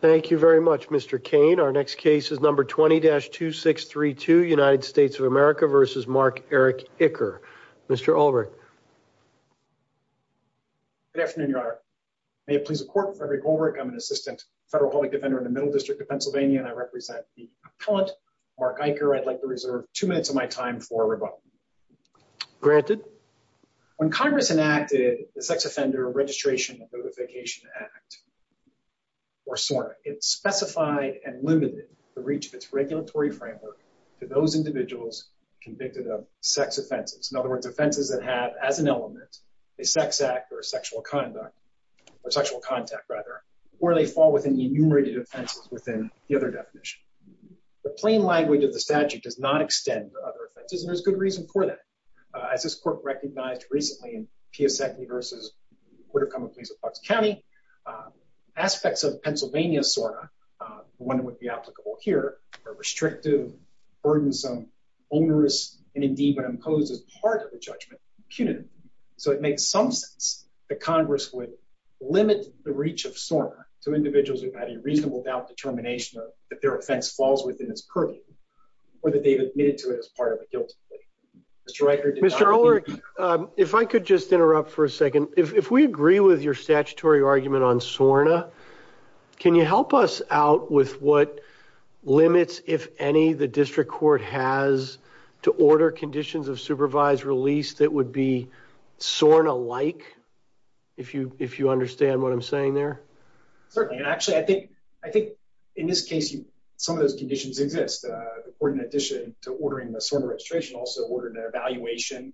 Thank you very much, Mr. Kane. Our next case is number 20-2632, United States of America v. Mark Eric Icker. Mr. Ulrich. Good afternoon, Your Honor. May it please the Court, I'm Frederick Ulrich. I'm an assistant federal public defender in the Middle District of Pennsylvania, and I represent the appellant, Mark Icker. I'd like to reserve two minutes of my time for rebuttal. Granted. When Congress enacted the Sex Offender Registration and Notification Act, or SORNA, it specified and limited the reach of its regulatory framework to those individuals convicted of sex offenses. In other words, offenses that have, as an element, a sex act or a sexual conduct, or sexual contact, rather, or they fall within enumerated offenses within the other definition. The plain language of the statute does not extend to other offenses, and there's good reason for that. As this court recognized recently in Piasecki v. Puerto Como Police of Fox County, aspects of Pennsylvania SORNA, the one that would be applicable here, are restrictive, burdensome, onerous, and indeed, when imposed as part of the judgment, punitive. So it makes some sense that Congress would limit the reach of SORNA to individuals who've had a reasonable doubt determination that their offense falls within its purview, or that they've admitted to it as part of a guilty plea. Mr. Icker. Mr. Ulrich, if I could just interrupt for a second. If we agree with your statutory argument on SORNA, can you help us out with what limits, if any, the district court has to order conditions of supervised release that would be SORNA-like, if you understand what I'm saying there? Certainly, and actually, I think in this case, some of those conditions exist. In addition to ordering the SORNA registration, also ordered an evaluation,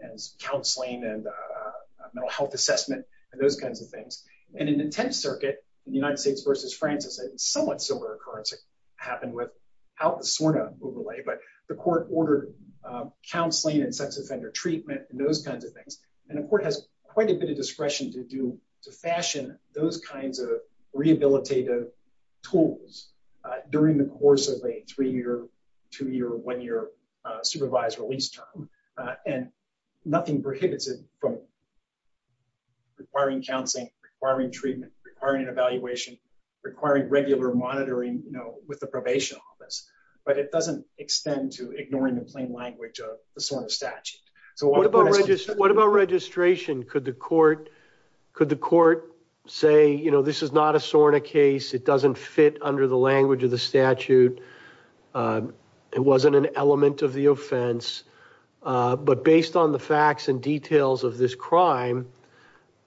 and counseling, and mental health assessment, and those kinds of things. And in the Tenth Circuit, in the United States v. Francis, a somewhat similar occurrence happened without the SORNA overlay, but the court ordered counseling and sex offender treatment, and those kinds of things. And the court has quite a bit of discretion to fashion those kinds of rehabilitative tools during the course of a three-year, two-year, one-year supervised release term. And nothing prohibits it from requiring counseling, requiring treatment, requiring an evaluation, requiring regular monitoring with the probation office. But it doesn't extend to ignoring the plain language of the SORNA statute. What about registration? Could the court say, this is not a SORNA case, it doesn't fit under the language of the statute, it wasn't an element of the offense, but based on the facts and details of this crime,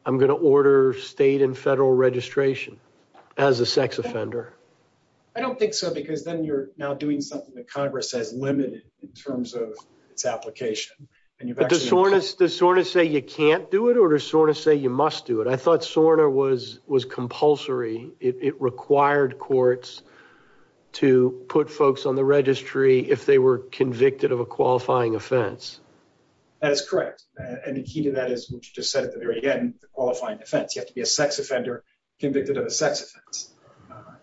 I'm going to order state and federal registration as a sex offender? I don't think so, because then you're now doing something that Congress has limited in terms of its application. Does SORNA say you can't do it, or does SORNA say you must do it? I thought SORNA was compulsory. It required courts to put folks on the registry if they were convicted of a qualifying offense. That is correct. And the key to that is, which you just said at the very end, the qualifying offense. You have to be a sex offender convicted of a sex offense.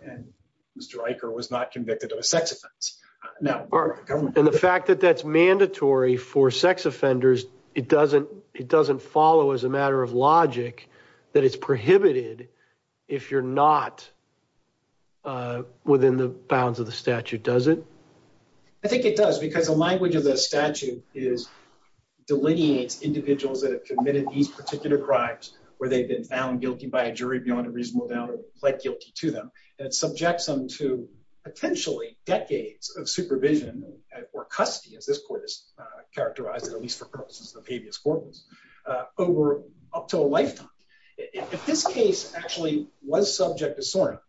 And Mr. Eicher was not convicted of a sex offense. And the fact that that's mandatory for sex offenders, it doesn't follow as a matter of logic that it's prohibited if you're not within the bounds of the statute, does it? I think it does, because the language of the statute delineates individuals that have committed these particular crimes, where they've been found guilty by a jury beyond a reasonable doubt or pled guilty to them, and it subjects them to potentially decades of supervision or custody, as this court has characterized it, at least for purposes of habeas corpus, over up to a lifetime. If this case actually was subject to SORNA,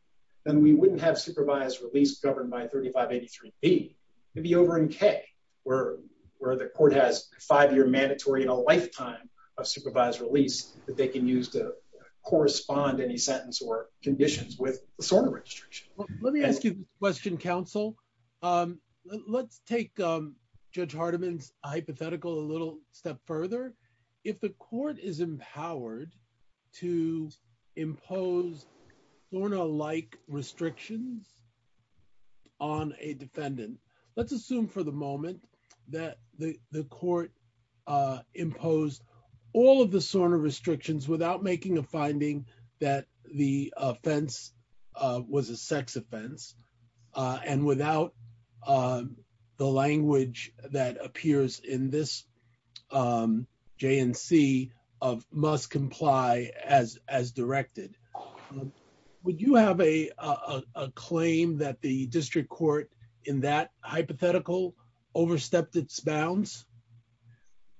then we wouldn't have supervised release governed by 3583B. It'd be over in K, where the court has a five-year mandatory and a lifetime of supervised release that they can use to correspond any sentence or conditions with the SORNA registration. Let me ask you a question, counsel. Um, let's take Judge Hardiman's hypothetical a little step further. If the court is empowered to impose SORNA-like restrictions on a defendant, let's assume for the moment that the court imposed all of the SORNA restrictions without making a finding that the offense was a sex offense, and without the language that appears in this J&C of must comply as directed. Would you have a claim that the district court in that hypothetical overstepped its bounds?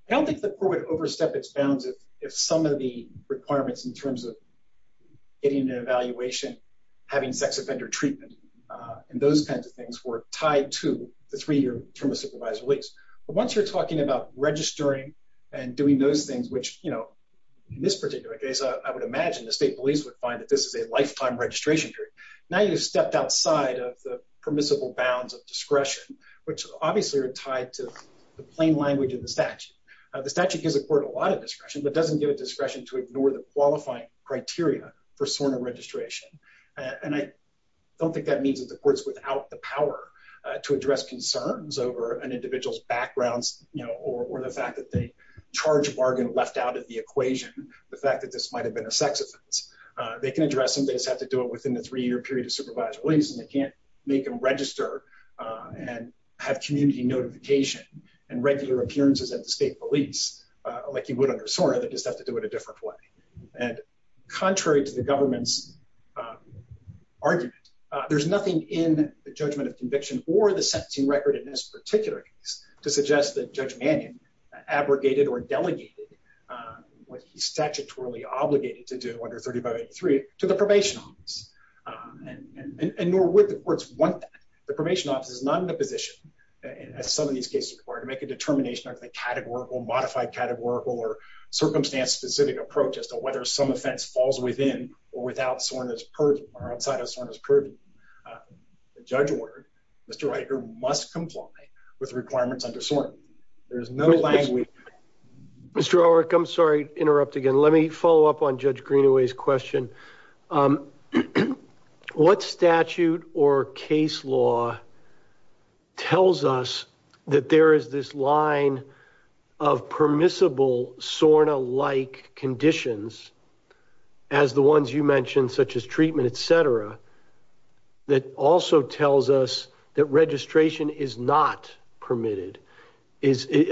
I don't think the court would overstep its bounds if some of the requirements in terms of getting an evaluation, having sex offender treatment, and those kinds of things were tied to the three-year term of supervised release. But once you're talking about registering and doing those things, which, you know, in this particular case, I would imagine the state police would find that this is a lifetime registration period. Now you've stepped outside of the permissible bounds of discretion, which obviously are tied to the plain language of the statute. The statute gives the court a lot of discretion, but doesn't give it discretion to for SORNA registration. And I don't think that means that the court's without the power to address concerns over an individual's backgrounds, you know, or the fact that the charge bargain left out of the equation, the fact that this might have been a sex offense. They can address them. They just have to do it within the three-year period of supervised release, and they can't make them register and have community notification and regular appearances at the state police like you would under SORNA. They just have to do it a different way. And contrary to the government's argument, there's nothing in the judgment of conviction or the sentencing record in this particular case to suggest that Judge Mannion abrogated or delegated what he statutorily obligated to do under 3583 to the probation office. And nor would the courts want that. The probation office is not in a position, as some of these cases require, to make a determination of the categorical, modified categorical, or circumstance-specific approach as to whether some offense falls within or without SORNA's purview or outside of SORNA's purview. The judge ordered Mr. Riker must comply with requirements under SORNA. There is no language... Mr. Riker, I'm sorry to interrupt again. Let me follow up on Judge Greenaway's question. What statute or case law tells us that there is this line of permissible SORNA-like conditions, as the ones you mentioned, such as treatment, etc., that also tells us that registration is not permitted?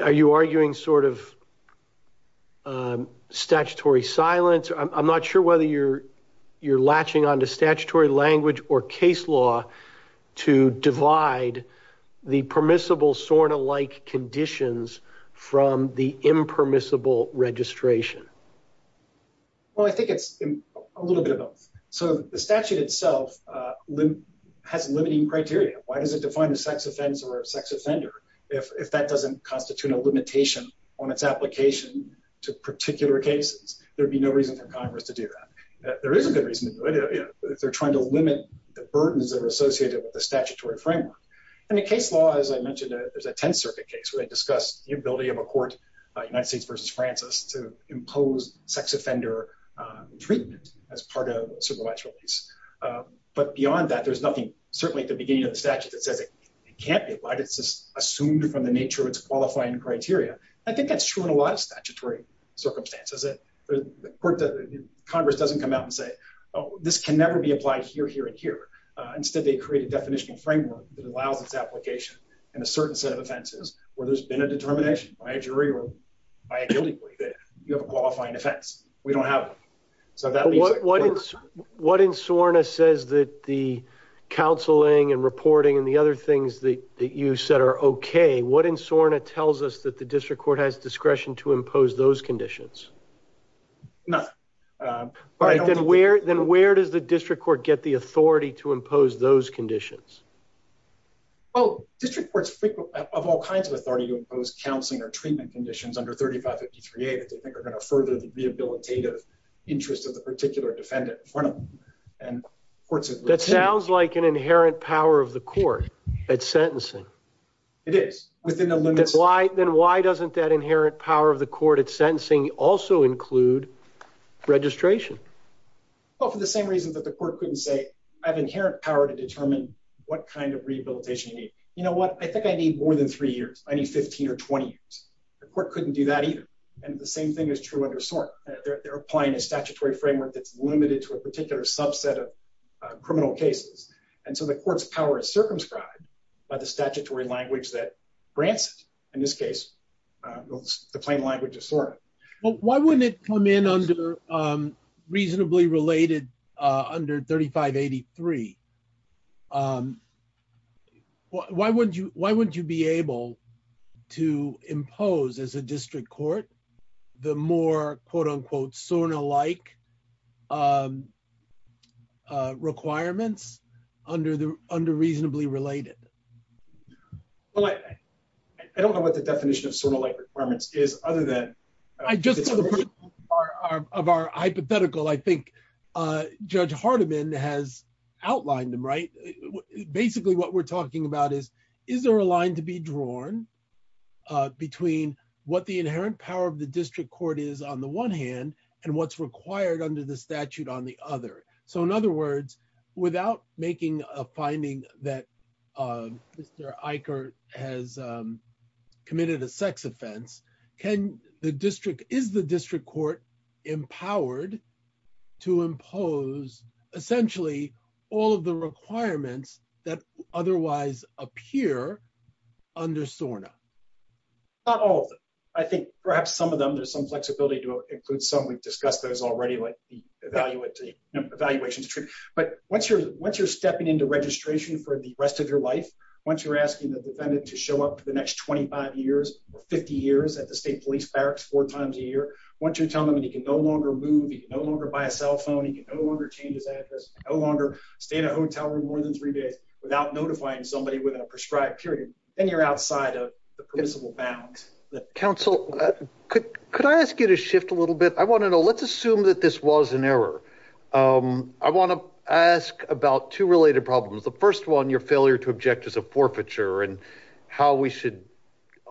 Are you arguing sort of statutory silence? I'm not sure whether you're latching onto statutory language or case law to divide the permissible SORNA-like conditions from the impermissible registration. Well, I think it's a little bit of both. So the statute itself has limiting criteria. Why does it define a sex offender if that doesn't constitute a limitation on its application to particular cases? There'd be no reason for Congress to do that. There is a good reason. They're trying to limit the burdens that are associated with the statutory framework. In the case law, as I mentioned, there's a Tenth Circuit case where they discussed the ability of a court, United States v. Francis, to impose sex offender treatment as part of a civil rights release. But beyond that, there's nothing, certainly at the beginning of the statute, that says it can't be. Why is this assumed from the nature of its qualifying criteria? I think that's true in a lot of statutory circumstances. Congress doesn't come out and say, oh, this can never be applied here, here, and here. Instead, they create a definitional framework that allows its application in a certain set of offenses where there's been a determination by a jury or by a guilty plea that you have a qualifying offense. We don't have one. What in SORNA says that the counseling and reporting and the other things that you said are okay, what in SORNA tells us that the district court has discretion to impose those conditions? Nothing. Then where does the district court get the authority to impose those conditions? District courts have all kinds of authority to impose counseling or treatment conditions under 3553A that they think are going to further the rehabilitative interest of the particular defendant in front of them. That sounds like an inherent power of the sentencing also include registration. Well, for the same reason that the court couldn't say, I have inherent power to determine what kind of rehabilitation you need. You know what? I think I need more than three years. I need 15 or 20 years. The court couldn't do that either. The same thing is true under SORNA. They're applying a statutory framework that's limited to a particular subset of criminal cases. The court's power is circumscribed by the statutory language that in this case, the plain language of SORNA. Why wouldn't it come in under reasonably related under 3583? Why wouldn't you be able to impose as a district court the more quote-unquote SORNA-like requirements under reasonably related? Well, I don't know what the definition of SORNA-like requirements is other than... Just as a part of our hypothetical, I think Judge Hardiman has outlined them, right? Basically, what we're talking about is, is there a line to be drawn between what the inherent power of the district court is on the one hand and what's required under the statute on the other? In other words, without making a finding that Mr. Eicher has committed a sex offense, is the district court empowered to impose essentially all of the requirements that otherwise appear under SORNA? Not all of them. I think perhaps some of them, we've discussed those already, like the evaluations. But once you're stepping into registration for the rest of your life, once you're asking the defendant to show up for the next 25 years or 50 years at the state police barracks four times a year, once you tell them that he can no longer move, he can no longer buy a cell phone, he can no longer change his address, no longer stay in a hotel room more than three days without notifying somebody within a prescribed period, then you're outside of the principle bounds. Counsel, could I ask you to shift a little bit? I want to know, let's assume that this was an error. I want to ask about two related problems. The first one, your failure to object is a forfeiture and how we should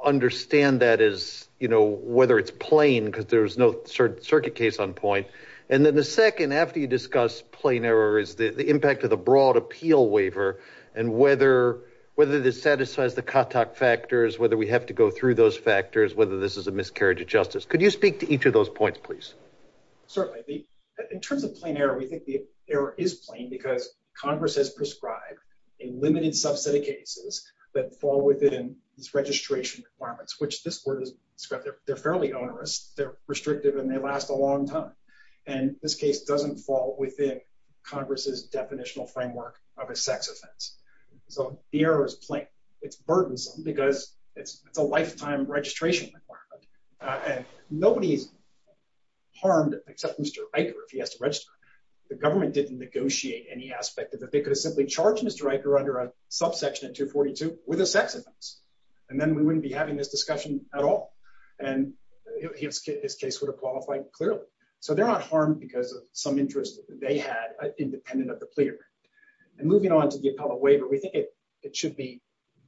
understand that is, you know, whether it's plain because there's no circuit case on point. And then the second, after you discuss plain error, is the impact of the broad appeal waiver and whether the satisfies the contact factors, whether we have to go through those factors, whether this is a miscarriage of justice. Could you speak to each of those points, please? Certainly. In terms of plain error, we think the error is plain because Congress has prescribed a limited subset of cases that fall within this registration requirements, which this word is descriptive. They're fairly onerous, they're restrictive, and they last a long time. And this case doesn't fall within Congress's definitional framework of a sex offense. So the error is plain. It's burdensome because it's a lifetime registration requirement. And nobody's harmed except Mr. Eicher if he has to register. The government didn't negotiate any aspect of it. They could have simply charged Mr. Eicher under a subsection at 242 with a sex offense, and then we wouldn't be having this discussion at all. And his case would have qualified clearly. So they're not harmed because some interest they had independent of the plea agreement. And moving on to the appellate waiver, we think it should be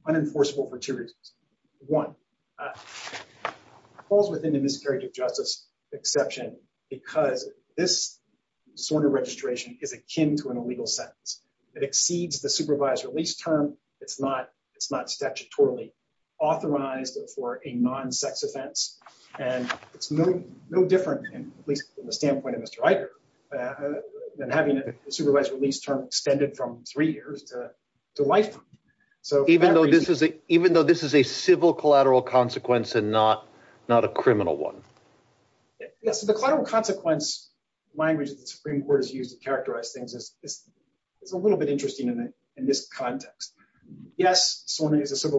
unenforceable for two reasons. One, it falls within the miscarriage of justice exception because this sort of registration is akin to an illegal sentence. It exceeds the supervised release term. It's not statutorily authorized for a non-sex offense. And it's no different, at least from the standpoint of Mr. Eicher, than having a supervised release term extended from three years to lifetime. So even though this is a civil collateral consequence and not a criminal one? Yes. So the collateral consequence language that the Supreme Court has used to characterize things is a little bit interesting in this context. Yes, SORNA is a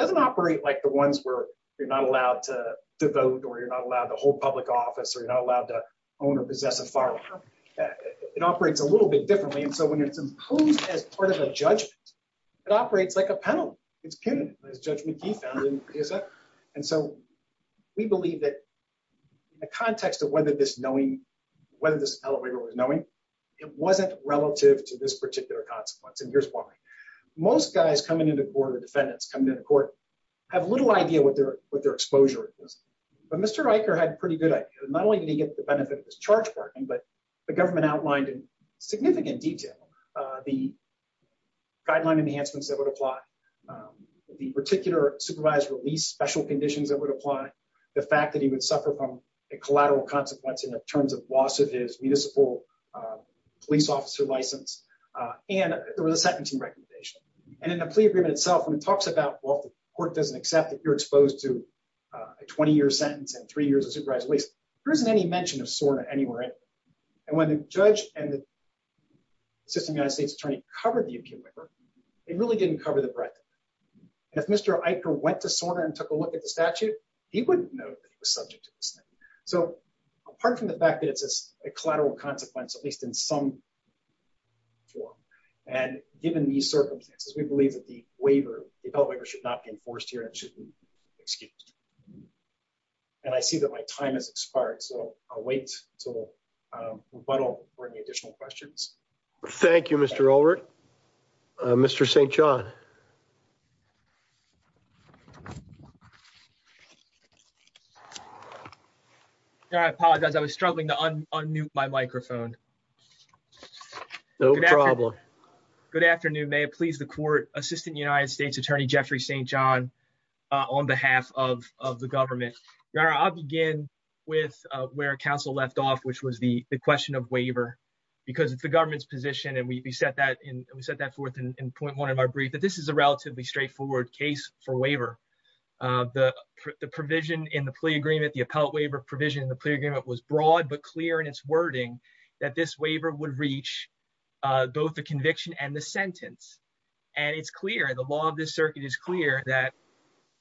operating like the ones where you're not allowed to vote, or you're not allowed to hold public office, or you're not allowed to own or possess a firearm. It operates a little bit differently. And so when it's imposed as part of a judgment, it operates like a penalty. It's punitive, as Judge McGee found in his case. And so we believe that the context of whether this knowing, whether this appellate waiver was knowing, it wasn't relative to this particular consequence. And here's why. Most guys coming into court, or defendants coming into court, have little idea what their exposure is. But Mr. Eicher had a pretty good idea, not only did he get the benefit of his charge pardoning, but the government outlined in significant detail the guideline enhancements that would apply, the particular supervised release special conditions that would apply, the fact that he would suffer from a collateral consequence in terms of loss of his municipal police officer license, and there was a sentencing recommendation. And in the plea agreement itself, when it talks about, well, if the court doesn't accept that you're exposed to a 20-year sentence and three years of supervised release, there isn't any mention of SORNA anywhere. And when the judge and the assistant United States attorney covered the appeal waiver, it really didn't cover the breadth. And if Mr. Eicher went to SORNA and took a look at the statute, he wouldn't know that he was subject to this thing. So apart from the fact that it's a collateral consequence, at least in some form, and given these circumstances, we believe that the waiver, the appeal waiver should not be enforced here and should be excused. And I see that my time has expired, so I'll wait until rebuttal for any additional questions. Thank you, Mr. Ulrich. Mr. St. John. Your Honor, I apologize. I was struggling to un-mute my microphone. No problem. Good afternoon. May it please the court, Assistant United States Attorney Jeffrey St. John on behalf of the government. Your Honor, I'll begin with where counsel left off, which was the government's position, and we set that forth in point one of our brief, that this is a relatively straightforward case for waiver. The provision in the plea agreement, the appellate waiver provision in the plea agreement was broad but clear in its wording that this waiver would reach both the conviction and the sentence. And it's clear, the law of this circuit is clear that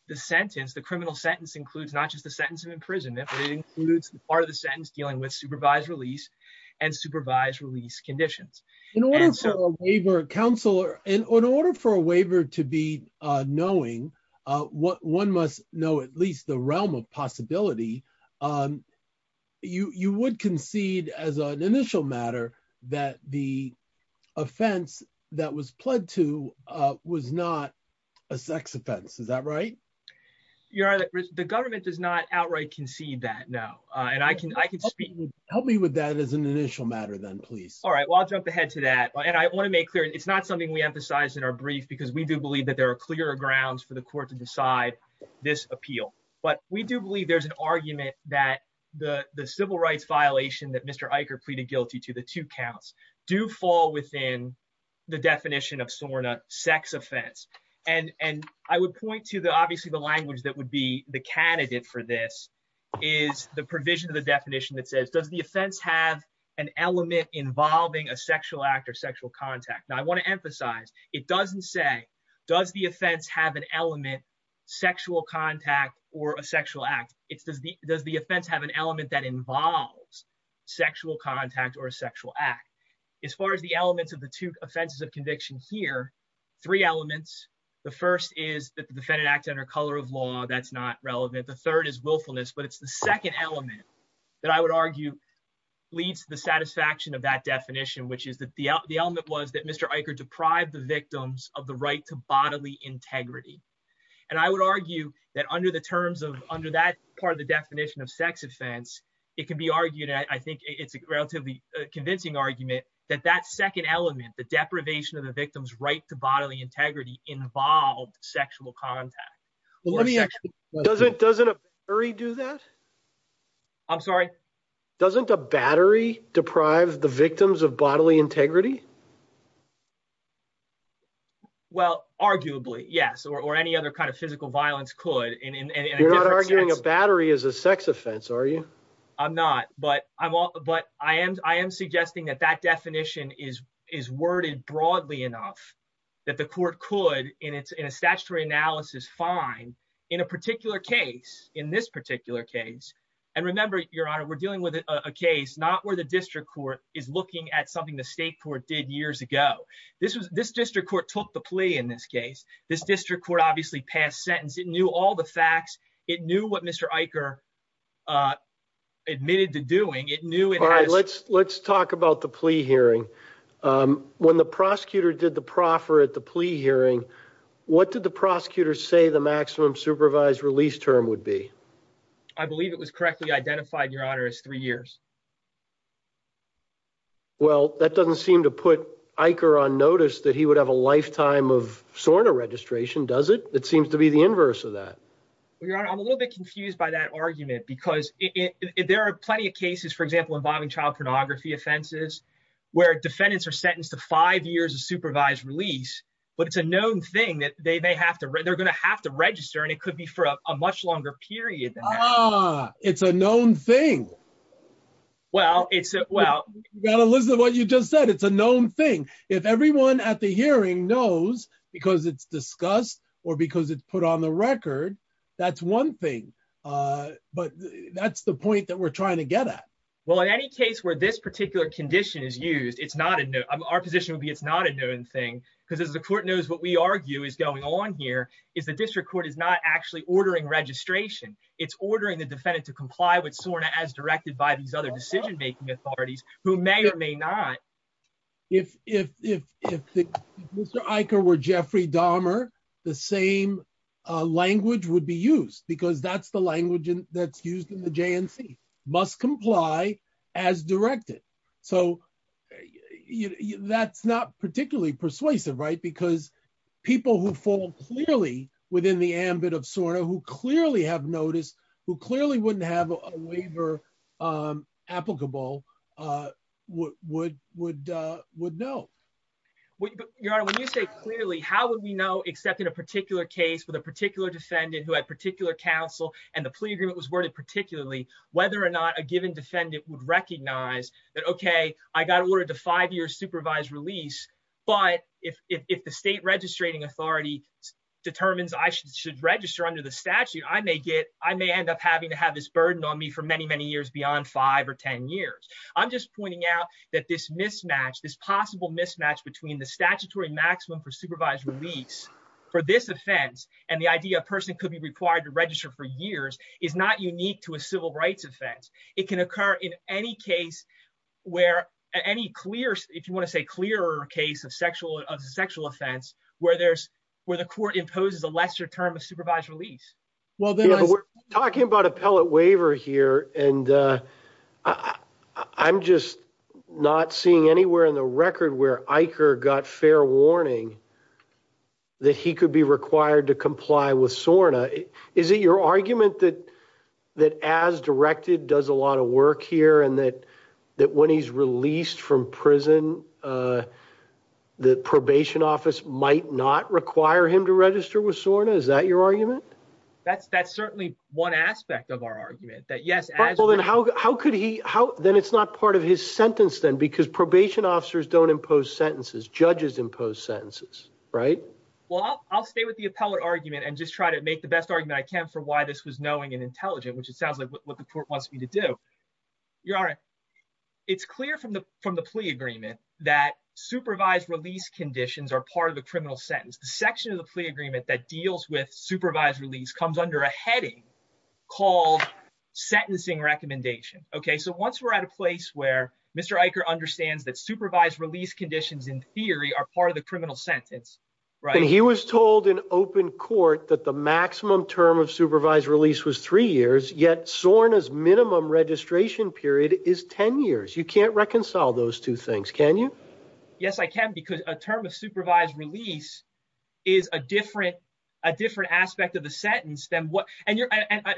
the sentence, the criminal sentence, includes not just the sentence of imprisonment, but it includes part of the sentence dealing with supervised release and supervised release conditions. In order for a waiver, counsel, in order for a waiver to be knowing, one must know at least the realm of possibility, you would concede as an initial matter that the offense that was pled to was not a sex offense. Is that right? Your Honor, the government does not outright concede that, no. And I can speak... Help me with that as an initial matter then, please. All right. Well, I'll jump ahead to that. And I want to make clear, it's not something we emphasize in our brief because we do believe that there are clear grounds for the court to decide this appeal. But we do believe there's an argument that the civil rights violation that Mr. Eicher pleaded guilty to, the two counts, do fall within the definition of SORNA sex offense. And I would point to the, obviously, the language that would be the candidate for this is the provision of the definition that says, does the offense have an element involving a sexual act or sexual contact? Now, I want to emphasize, it doesn't say, does the offense have an element, sexual contact, or a sexual act? It's does the offense have an element that involves sexual contact or a sexual act? As far as the elements of the two offenses of conviction here, three elements. The first is that the defendant acts under color of law. That's not relevant. The third is willfulness, but it's the second element that I would argue leads to the satisfaction of that definition, which is that the element was that Mr. Eicher deprived the victims of the right to bodily integrity. And I would argue that under that part of the definition of sex offense, it can be argued, and I think it's a relatively convincing argument, that that second element, the deprivation of the victim's right to bodily integrity involved sexual contact. Well, let me ask you, doesn't a battery do that? I'm sorry? Doesn't a battery deprive the victims of bodily integrity? Well, arguably, yes, or any other kind of physical violence could. You're not arguing a battery is a sex offense, are you? I'm not, but I am suggesting that that definition is worded broadly enough that the court could, in a statutory analysis, find in a particular case, in this particular case, and remember, Your Honor, we're dealing with a case not where the district court is looking at something the state court did years ago. This district court took the plea in this case. This district court obviously passed sentence. It knew all the facts. It knew what Mr. Eicher admitted to doing. All right, let's talk about the plea hearing. When the prosecutor did the proffer at the plea hearing, what did the prosecutor say the maximum supervised release term would be? I believe it was correctly identified, Your Honor, as three years. Well, that doesn't seem to put Eicher on notice that he would have a lifetime of what seems to be the inverse of that. Well, Your Honor, I'm a little bit confused by that argument because there are plenty of cases, for example, involving child pornography offenses where defendants are sentenced to five years of supervised release, but it's a known thing that they're going to have to register, and it could be for a much longer period than that. Ah, it's a known thing. You've got to listen to what you just said. It's a known thing. If everyone at the hearing knows, because it's discussed or because it's put on the record, that's one thing. But that's the point that we're trying to get at. Well, in any case where this particular condition is used, it's not a known thing. Because as the court knows, what we argue is going on here is the district court is not actually ordering registration. It's ordering the defendant to comply with SORNA as directed by these other authorities who may or may not. If Mr. Eicher were Jeffrey Dahmer, the same language would be used because that's the language that's used in the JNC, must comply as directed. So that's not particularly persuasive, right? Because people who fall clearly within the ambit of SORNA, who clearly have notice, who clearly wouldn't have a waiver applicable, would know. Your Honor, when you say clearly, how would we know, except in a particular case with a particular defendant who had particular counsel and the plea agreement was worded particularly, whether or not a given defendant would recognize that, okay, I got ordered to five years supervised release. But if the state registrating authority determines I should register under the SORNA, I may end up having to have this burden on me for many, many years beyond five or 10 years. I'm just pointing out that this mismatch, this possible mismatch between the statutory maximum for supervised release for this offense and the idea a person could be required to register for years is not unique to a civil rights offense. It can occur in any case where any clear, if you want to say clearer case of sexual offense, where the court imposes a lesser term of supervised release. We're talking about appellate waiver here and I'm just not seeing anywhere in the record where Eicher got fair warning that he could be required to comply with SORNA. Is it your argument that as directed does a lot of work here and that when he's released from prison, the probation office might not require him to register with SORNA? Is that your argument? That's certainly one aspect of our argument that yes. Well, then how could he, then it's not part of his sentence then because probation officers don't impose sentences. Judges impose sentences, right? Well, I'll stay with the appellate argument and just try to make the best argument I can for why this was knowing and intelligent, which it sounds like what the court wants me to do. It's clear from the plea agreement that supervised release conditions are part of the criminal sentence. The section of the plea that deals with supervised release comes under a heading called sentencing recommendation. Okay, so once we're at a place where Mr. Eicher understands that supervised release conditions in theory are part of the criminal sentence, right? He was told in open court that the maximum term of supervised release was three years, yet SORNA's minimum registration period is 10 years. You can't reconcile those two things, can you? Yes, I can because a term of supervised release is a different aspect of the sentence than what, and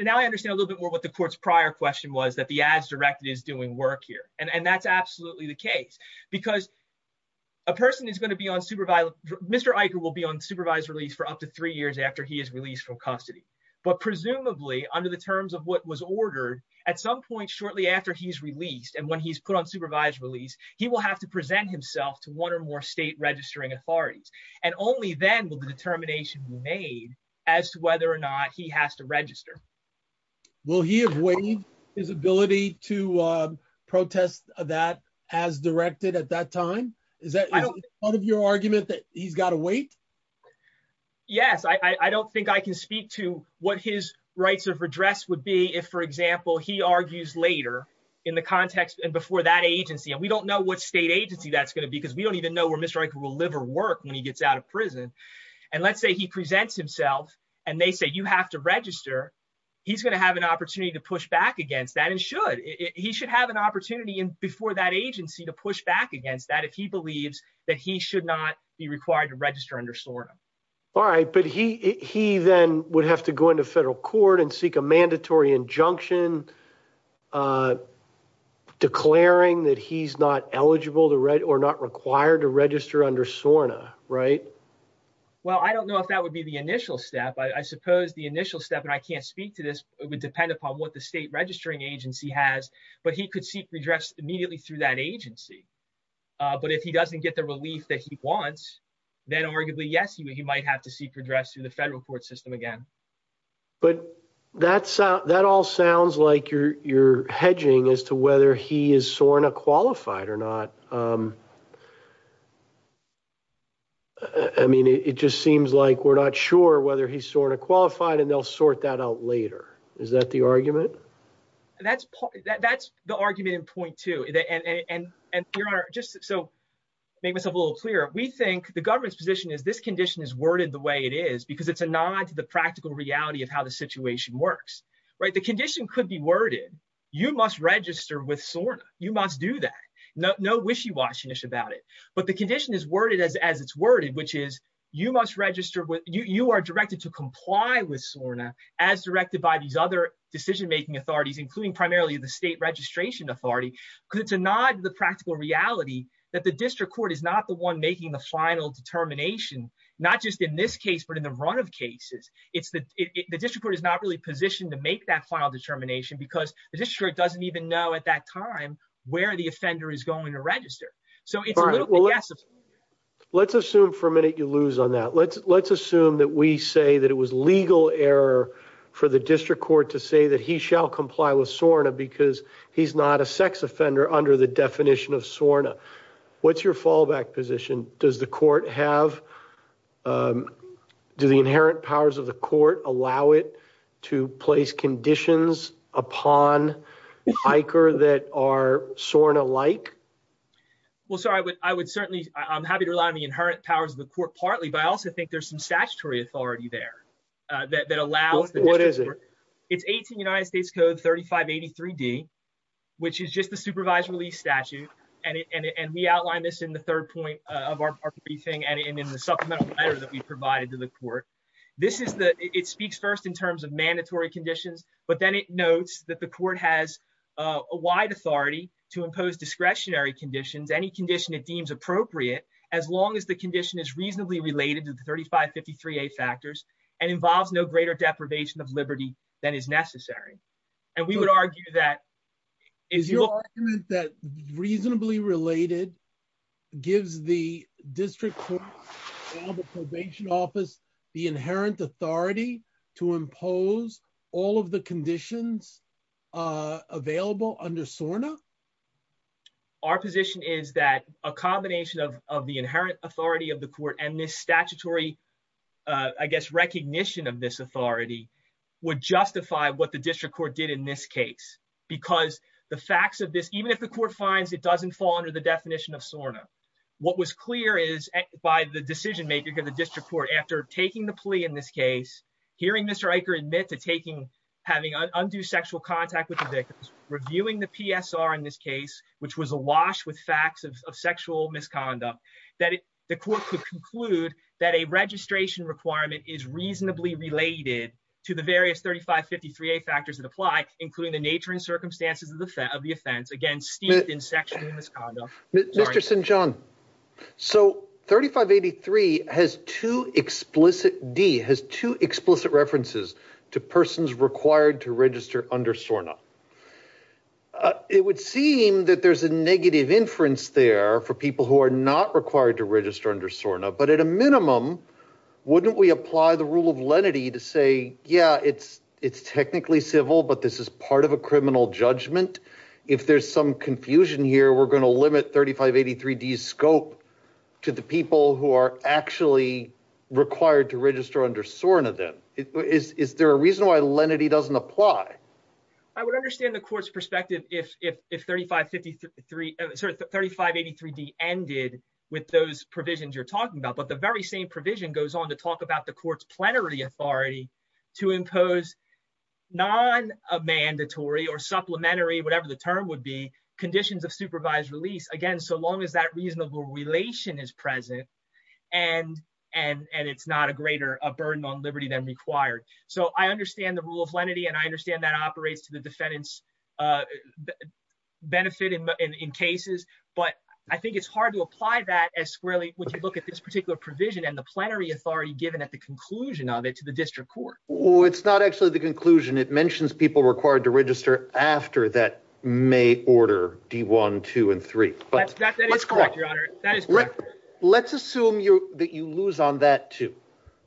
now I understand a little bit more what the court's prior question was that the ads directed is doing work here. And that's absolutely the case because a person is going to be on supervised, Mr. Eicher will be on supervised release for up to three years after he is released from custody. But presumably under the terms of what was ordered at some point shortly after he's released and when he's put on supervised release, he will have to present himself to one or more state registering authorities. And only then will the determination be made as to whether or not he has to register. Will he have waived his ability to protest that as directed at that time? Is that part of your argument that he's got to wait? Yes, I don't think I can speak to what his rights of redress would be if, for example, he argues later in the context and before that agency, and we don't know what state agency that's going to be because we don't even know where Mr. Eicher will live or work when he gets out of prison. And let's say he presents himself and they say, you have to register. He's going to have an opportunity to push back against that and should, he should have an opportunity before that agency to push back against that if he believes that he should not be required to register under SORTA. All right, but he then would have to go to federal court and seek a mandatory injunction declaring that he's not eligible or not required to register under SORTA, right? Well, I don't know if that would be the initial step. I suppose the initial step, and I can't speak to this, it would depend upon what the state registering agency has, but he could seek redress immediately through that agency. But if he doesn't get the relief that he wants, then arguably, yes, he might have to seek redress through the federal court system again. But that all sounds like you're hedging as to whether he is SORTA qualified or not. I mean, it just seems like we're not sure whether he's SORTA qualified and they'll sort that out later. Is that the argument? That's the argument in point two. And your honor, just to make myself a little clearer, we think the government's position is this condition is worded the way it is because it's a nod to the practical reality of how the situation works, right? The condition could be worded. You must register with SORTA. You must do that. No wishy-washy-nish about it. But the condition is worded as it's worded, which is you are directed to comply with SORTA as directed by these other decision-making authorities, including primarily the state registration authority, because it's a nod to the practical reality that the district court is not the one making the final determination, not just in this case, but in the run of cases. It's the district court is not really positioned to make that final determination because the district doesn't even know at that time where the offender is going to register. So it's a guess. Let's assume for a minute you lose on that. Let's assume that we say that it was legal error for the district court to say that he shall comply with SORTA because he's not a sex offender under the definition of SORTA. What's your fallback position? Do the inherent powers of the court allow it to place conditions upon ICAR that are SORTA-like? Well, sir, I'm happy to rely on the inherent powers of the court partly, but I also think there's some statutory authority there that allows the district court. It's 18 United States Code 3583D, which is just the supervised release statute, and we outline this in the third point of our briefing and in the supplemental letter that we provided to the court. It speaks first in terms of mandatory conditions, but then it notes that the court has a wide authority to impose discretionary conditions, any condition it deems appropriate, as long as the condition is reasonably related to the 3553A factors and involves no greater deprivation of liberty than is necessary. And we would argue that... Is your argument that reasonably related gives the district court and the probation office the inherent authority to impose all of the conditions available under SORTA? Our position is that a combination of the inherent authority of the court and this statutory, I guess, recognition of this authority would justify what the district court did in this case, because the facts of this, even if the court finds it doesn't fall under the definition of SORTA, what was clear is by the decision-maker in the district court after taking the plea in this case, hearing Mr. ICAR admit to having undue sexual contact with the victims, reviewing the PSR in this case, which was awash with facts of sexual misconduct, that the court could conclude that a registration requirement is reasonably related to the various 3553A factors that apply, including the nature and circumstances of the offense, again, steeped in sexual misconduct. Mr. Sinchon, so 3583 has two explicit... D has two explicit references to persons required to register under SORTA. It would seem that there's a negative inference there for people who are not required to register under SORTA, but at a minimum, wouldn't we apply the rule of lenity to say, yeah, it's technically civil, but this is part of a criminal judgment. If there's some confusion here, we're going to limit 3583D's scope to the people who are actually required to register under SORTA then. Is there a lenity doesn't apply? I would understand the court's perspective if 3583D ended with those provisions you're talking about, but the very same provision goes on to talk about the court's plenary authority to impose non-mandatory or supplementary, whatever the term would be, conditions of supervised release, again, so long as that reasonable relation is present and it's not a greater burden on liberty than required. So I understand the rule of lenity, and I understand that operates to the defendant's benefit in cases, but I think it's hard to apply that as squarely when you look at this particular provision and the plenary authority given at the conclusion of it to the district court. Well, it's not actually the conclusion. It mentions people required to register after that May order, D1, 2, and 3. That is correct, your honor. That is correct. Let's assume that you lose on that too.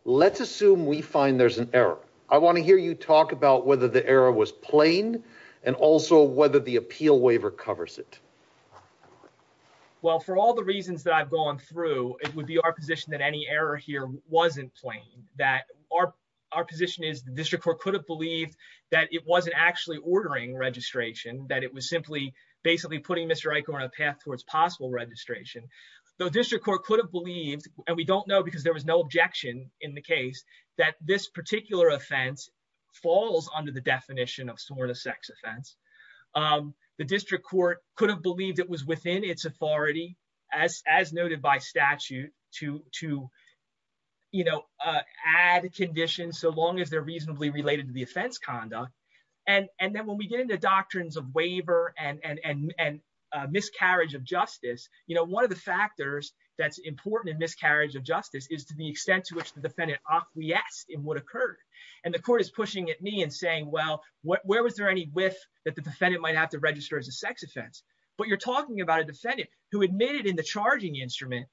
Let's assume we find there's an error. I want to hear you talk about whether the error was plain and also whether the appeal waiver covers it. Well, for all the reasons that I've gone through, it would be our position that any error here wasn't plain, that our position is the district court could have believed that it wasn't actually ordering registration, that it was simply basically putting Mr. Eichhorn on a path towards possible registration. The district court could have believed, and we don't know because there was no objection in the case, that this particular offense falls under the definition of sort of sex offense. The district court could have believed it was within its authority, as noted by statute, to add conditions so long as they're reasonably related to the offense conduct. Then when we get into doctrines of waiver and miscarriage of justice, one of the factors that's important in miscarriage of justice is to the extent to which the defendant acquiesced in what occurred. The court is pushing at me and saying, well, where was there any whiff that the defendant might have to register as a sex offense? You're talking about a defendant who admitted in the charging instrument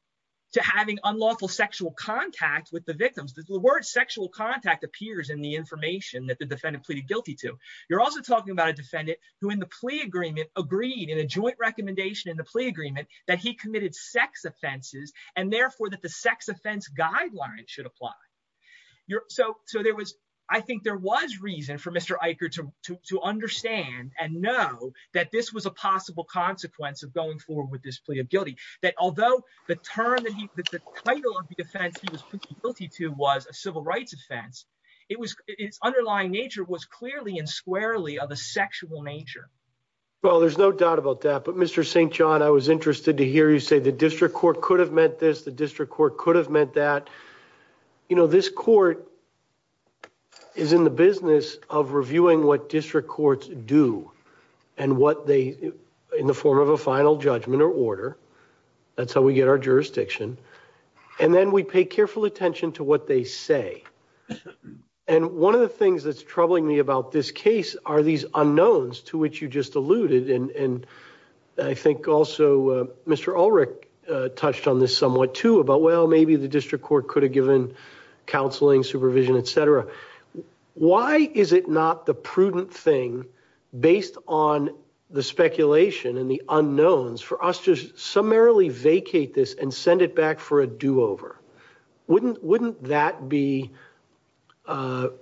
to having unlawful sexual contact with the victims. The sexual contact appears in the information that the defendant pleaded guilty to. You're also talking about a defendant who in the plea agreement agreed in a joint recommendation in the plea agreement that he committed sex offenses and therefore that the sex offense guideline should apply. I think there was reason for Mr. Eichhorn to understand and know that this was a possible consequence of going forward with this plea of guilty. Although the title of the defense he was guilty to was a civil rights offense, its underlying nature was clearly and squarely of a sexual nature. Well, there's no doubt about that, but Mr. St. John, I was interested to hear you say the district court could have meant this, the district court could have meant that. You know, this court is in the business of reviewing what district courts do and what they, in the form of a final judgment or order, that's how we get our jurisdiction, and then we pay careful attention to what they say. And one of the things that's troubling me about this case are these unknowns to which you just alluded, and I think also Mr. Ulrich touched on this somewhat too, about well maybe the district court could have given counseling, supervision, etc. Why is it not the prudent thing based on the speculation and the do-over? Wouldn't that be the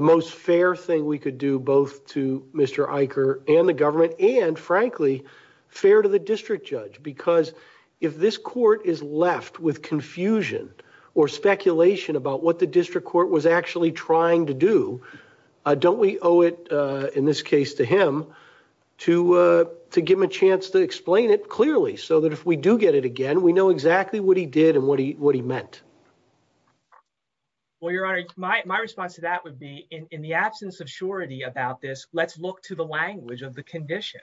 most fair thing we could do both to Mr. Eichhorn and the government, and frankly, fair to the district judge? Because if this court is left with confusion or speculation about what the district court was actually trying to do, don't we owe it, in this case, to him to give him a chance to explain it clearly so that if we do get it again, we know exactly what he did and what he meant? Well, your honor, my response to that would be, in the absence of surety about this, let's look to the language of the condition.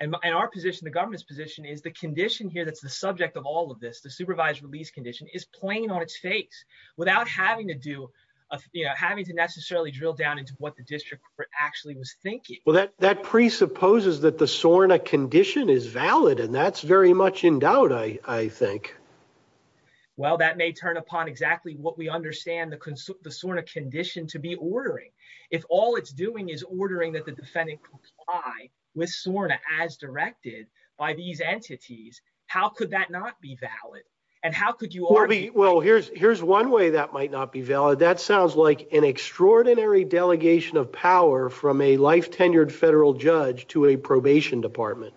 And our position, the government's position, is the condition here that's the subject of all of this, the supervised release condition, is plain on its face without having to necessarily drill down into what the district court actually was thinking. Well, that presupposes that the Well, that may turn upon exactly what we understand the SORNA condition to be ordering. If all it's doing is ordering that the defendant comply with SORNA as directed by these entities, how could that not be valid? Well, here's one way that might not be valid. That sounds like an extraordinary delegation of power from a life-tenured federal judge to a probation department.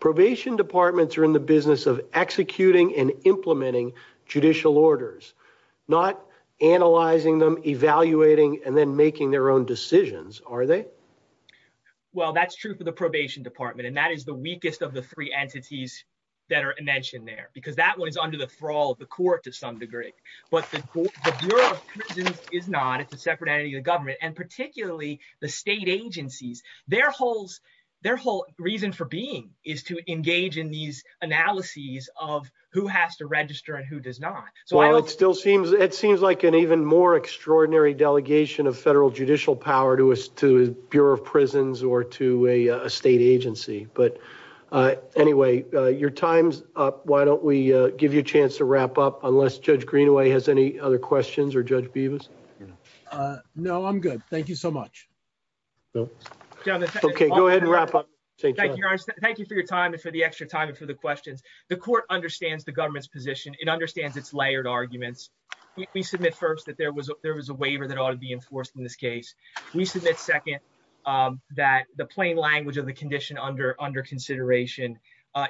Probation departments are in the business of executing and implementing judicial orders, not analyzing them, evaluating, and then making their own decisions, are they? Well, that's true for the probation department, and that is the weakest of the three entities that are mentioned there, because that one is under the thrall of the court to some degree. But the Bureau of Prisons is not. It's a separate entity of the government, and particularly the state agencies. Their whole reason for being is to engage in these analyses of who has to register and who does not. Well, it still seems like an even more extraordinary delegation of federal judicial power to the Bureau of Prisons or to a state agency. But anyway, your time's up. Why don't we give you a chance to wrap up, unless Judge Greenaway has any other questions or Judge Greenaway has any other questions. Thank you so much. Okay, go ahead and wrap up. Thank you for your time and for the extra time and for the questions. The court understands the government's position. It understands its layered arguments. We submit first that there was a waiver that ought to be enforced in this case. We submit second that the plain language of the condition under consideration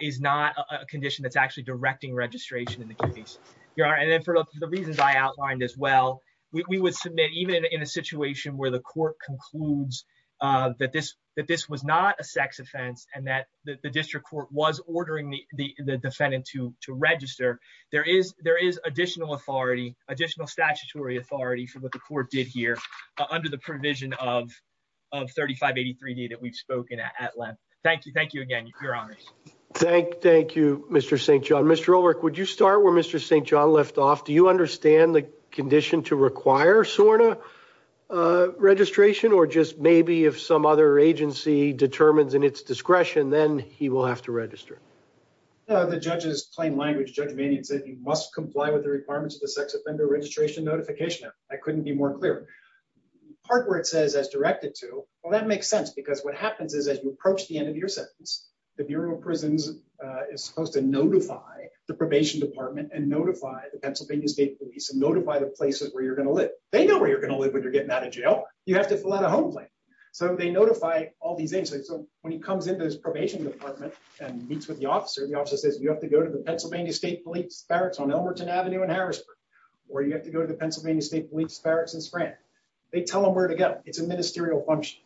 is not a condition that's actually directing registration in the case. Your Honor, and then for the reasons I outlined as well, we would submit even in a situation where the court concludes that this was not a sex offense and that the district court was ordering the defendant to register, there is additional statutory authority for what the court did here under the provision of 3583D that we've spoken at at length. Thank you again, Your Honor. Thank you, Mr. St. John. Mr. Ulrich, would you start where Mr. St. John left off? Do you or just maybe if some other agency determines in its discretion, then he will have to register? The judge's plain language, Judge Manion said he must comply with the requirements of the sex offender registration notification act. I couldn't be more clear. Part where it says as directed to, well, that makes sense because what happens is as you approach the end of your sentence, the Bureau of Prisons is supposed to notify the probation department and notify the Pennsylvania State Police and notify the places where you're going to live. They know where you're going to live when you're getting out of jail. You have to fill out a home plan. So they notify all these agencies. So when he comes into his probation department and meets with the officer, the officer says, you have to go to the Pennsylvania State Police barracks on Elmerton Avenue in Harrisburg, or you have to go to the Pennsylvania State Police barracks in Spratt. They tell them where to go. It's a ministerial function.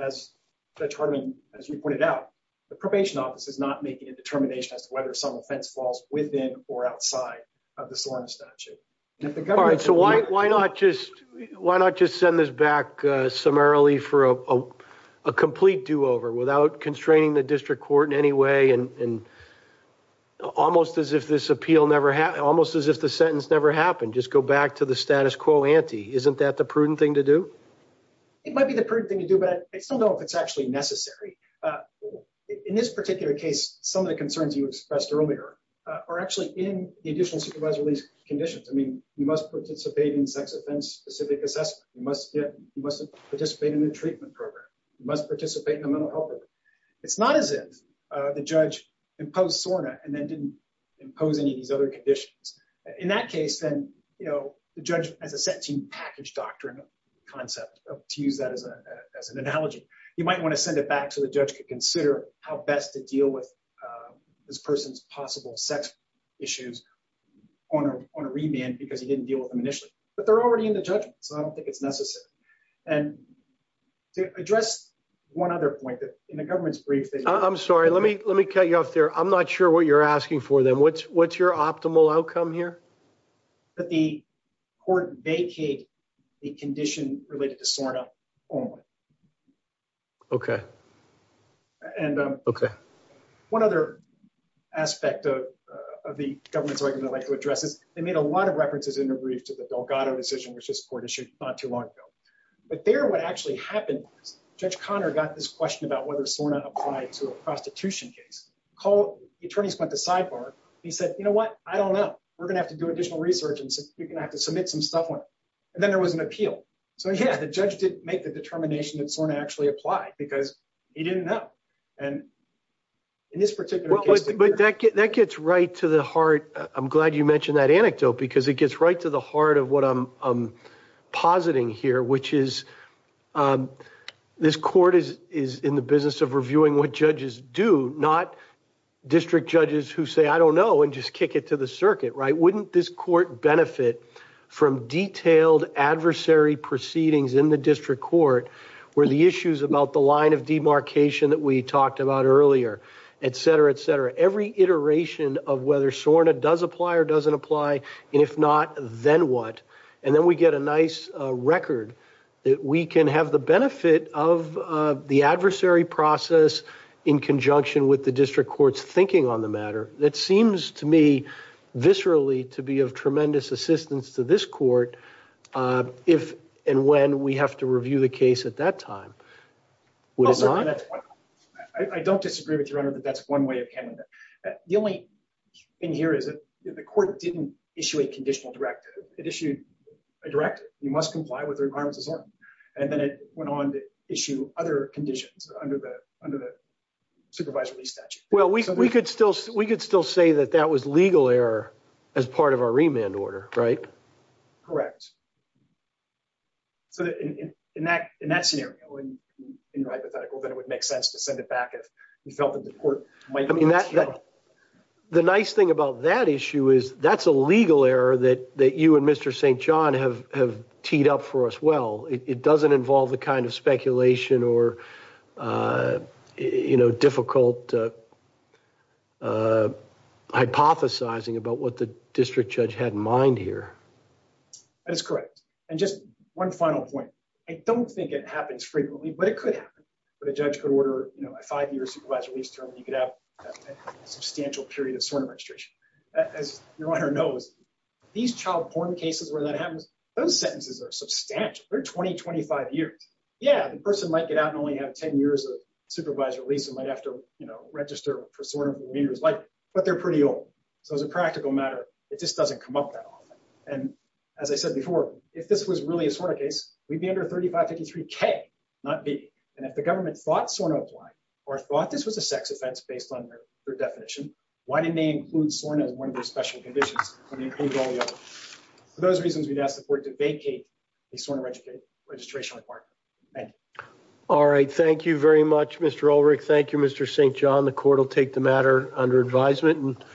As Judge Hardiman, as you pointed out, the probation office is not making a determination as to whether some offense falls within or outside of the jurisdiction of the district court. So you might just send this back summarily for a complete do-over without constraining the district court in any way and almost as if this appeal never happened, almost as if the sentence never happened. Just go back to the status quo ante. Isn't that the prudent thing to do? It might be the prudent thing to do, but I still don't know if it's actually necessary. In this particular case, some of the concerns you expressed earlier are actually in the additional release conditions. I mean, you must participate in sex offense specific assessment. You must participate in a treatment program. You must participate in a mental health program. It's not as if the judge imposed SORNA and then didn't impose any of these other conditions. In that case, then the judge has a set team package doctrine concept, to use that as an analogy. You might want to send it back so the judge could consider how best to deal with this on a remand because he didn't deal with them initially. But they're already in the judgment, so I don't think it's necessary. And to address one other point that in the government's brief... I'm sorry, let me cut you off there. I'm not sure what you're asking for then. What's your optimal outcome here? That the court vacate a condition related to SORNA only. Okay. Okay. And one other aspect of the government's argument I'd like to address is they made a lot of references in the brief to the Delgado decision, which this court issued not too long ago. But there, what actually happened was Judge Conner got this question about whether SORNA applied to a prostitution case. The attorneys went to sidebar. He said, you know what? I don't know. We're going to have to do additional research and you're going to have to submit some stuff. And then there was an appeal. So yeah, the judge didn't make the determination that SORNA actually applied because he didn't know. And in this particular case... But that gets right to the heart. I'm glad you mentioned that anecdote, because it gets right to the heart of what I'm positing here, which is this court is in the business of reviewing what judges do, not district judges who say, I don't know, and just kick it to the circuit, right? Wouldn't this court benefit from detailed adversary proceedings in the district court where the issues about the line of demarcation that we talked about earlier, et cetera, et cetera, every iteration of whether SORNA does apply or doesn't apply, and if not, then what? And then we get a nice record that we can have the benefit of the adversary process in conjunction with the district court's thinking on the matter. That seems to me viscerally to be of tremendous assistance to this court if and when we have to review the case at that time. I don't disagree with you, Your Honor, that that's one way of handling it. The only thing here is that the court didn't issue a conditional directive. It issued a directive. You must comply with the requirements of SORNA. And then it went on to issue other conditions under the supervisory statute. Well, we could still say that that was legal error as part of our remand order, right? Correct. So in that scenario, in your hypothetical, then it would make sense to send it back if you felt that the court might not show it. The nice thing about that issue is that's a legal error that you and Mr. St. John have teed up for us well. It doesn't involve the kind of speculation or you know, difficult hypothesizing about what the district judge had in mind here. That is correct. And just one final point. I don't think it happens frequently, but it could happen. But a judge could order, you know, a five year supervised release term. You could have a substantial period of SORNA registration. As your Honor knows, these child porn cases where that happens, those sentences are substantial. They're 20, 25 years. Yeah, the person might get out and have 10 years of supervised release and might have to register for SORNA for years, but they're pretty old. So as a practical matter, it just doesn't come up that often. And as I said before, if this was really a SORNA case, we'd be under 3553K, not B. And if the government thought SORNA applied or thought this was a sex offense based on their definition, why didn't they include SORNA as one of their special conditions when they included all the others? For those reasons, we'd ask the court to vacate the SORNA registration requirement. Thank you. All right. Thank you very much, Mr. Ulrich. Thank you, Mr. St. John. The court will take the matter under advisement.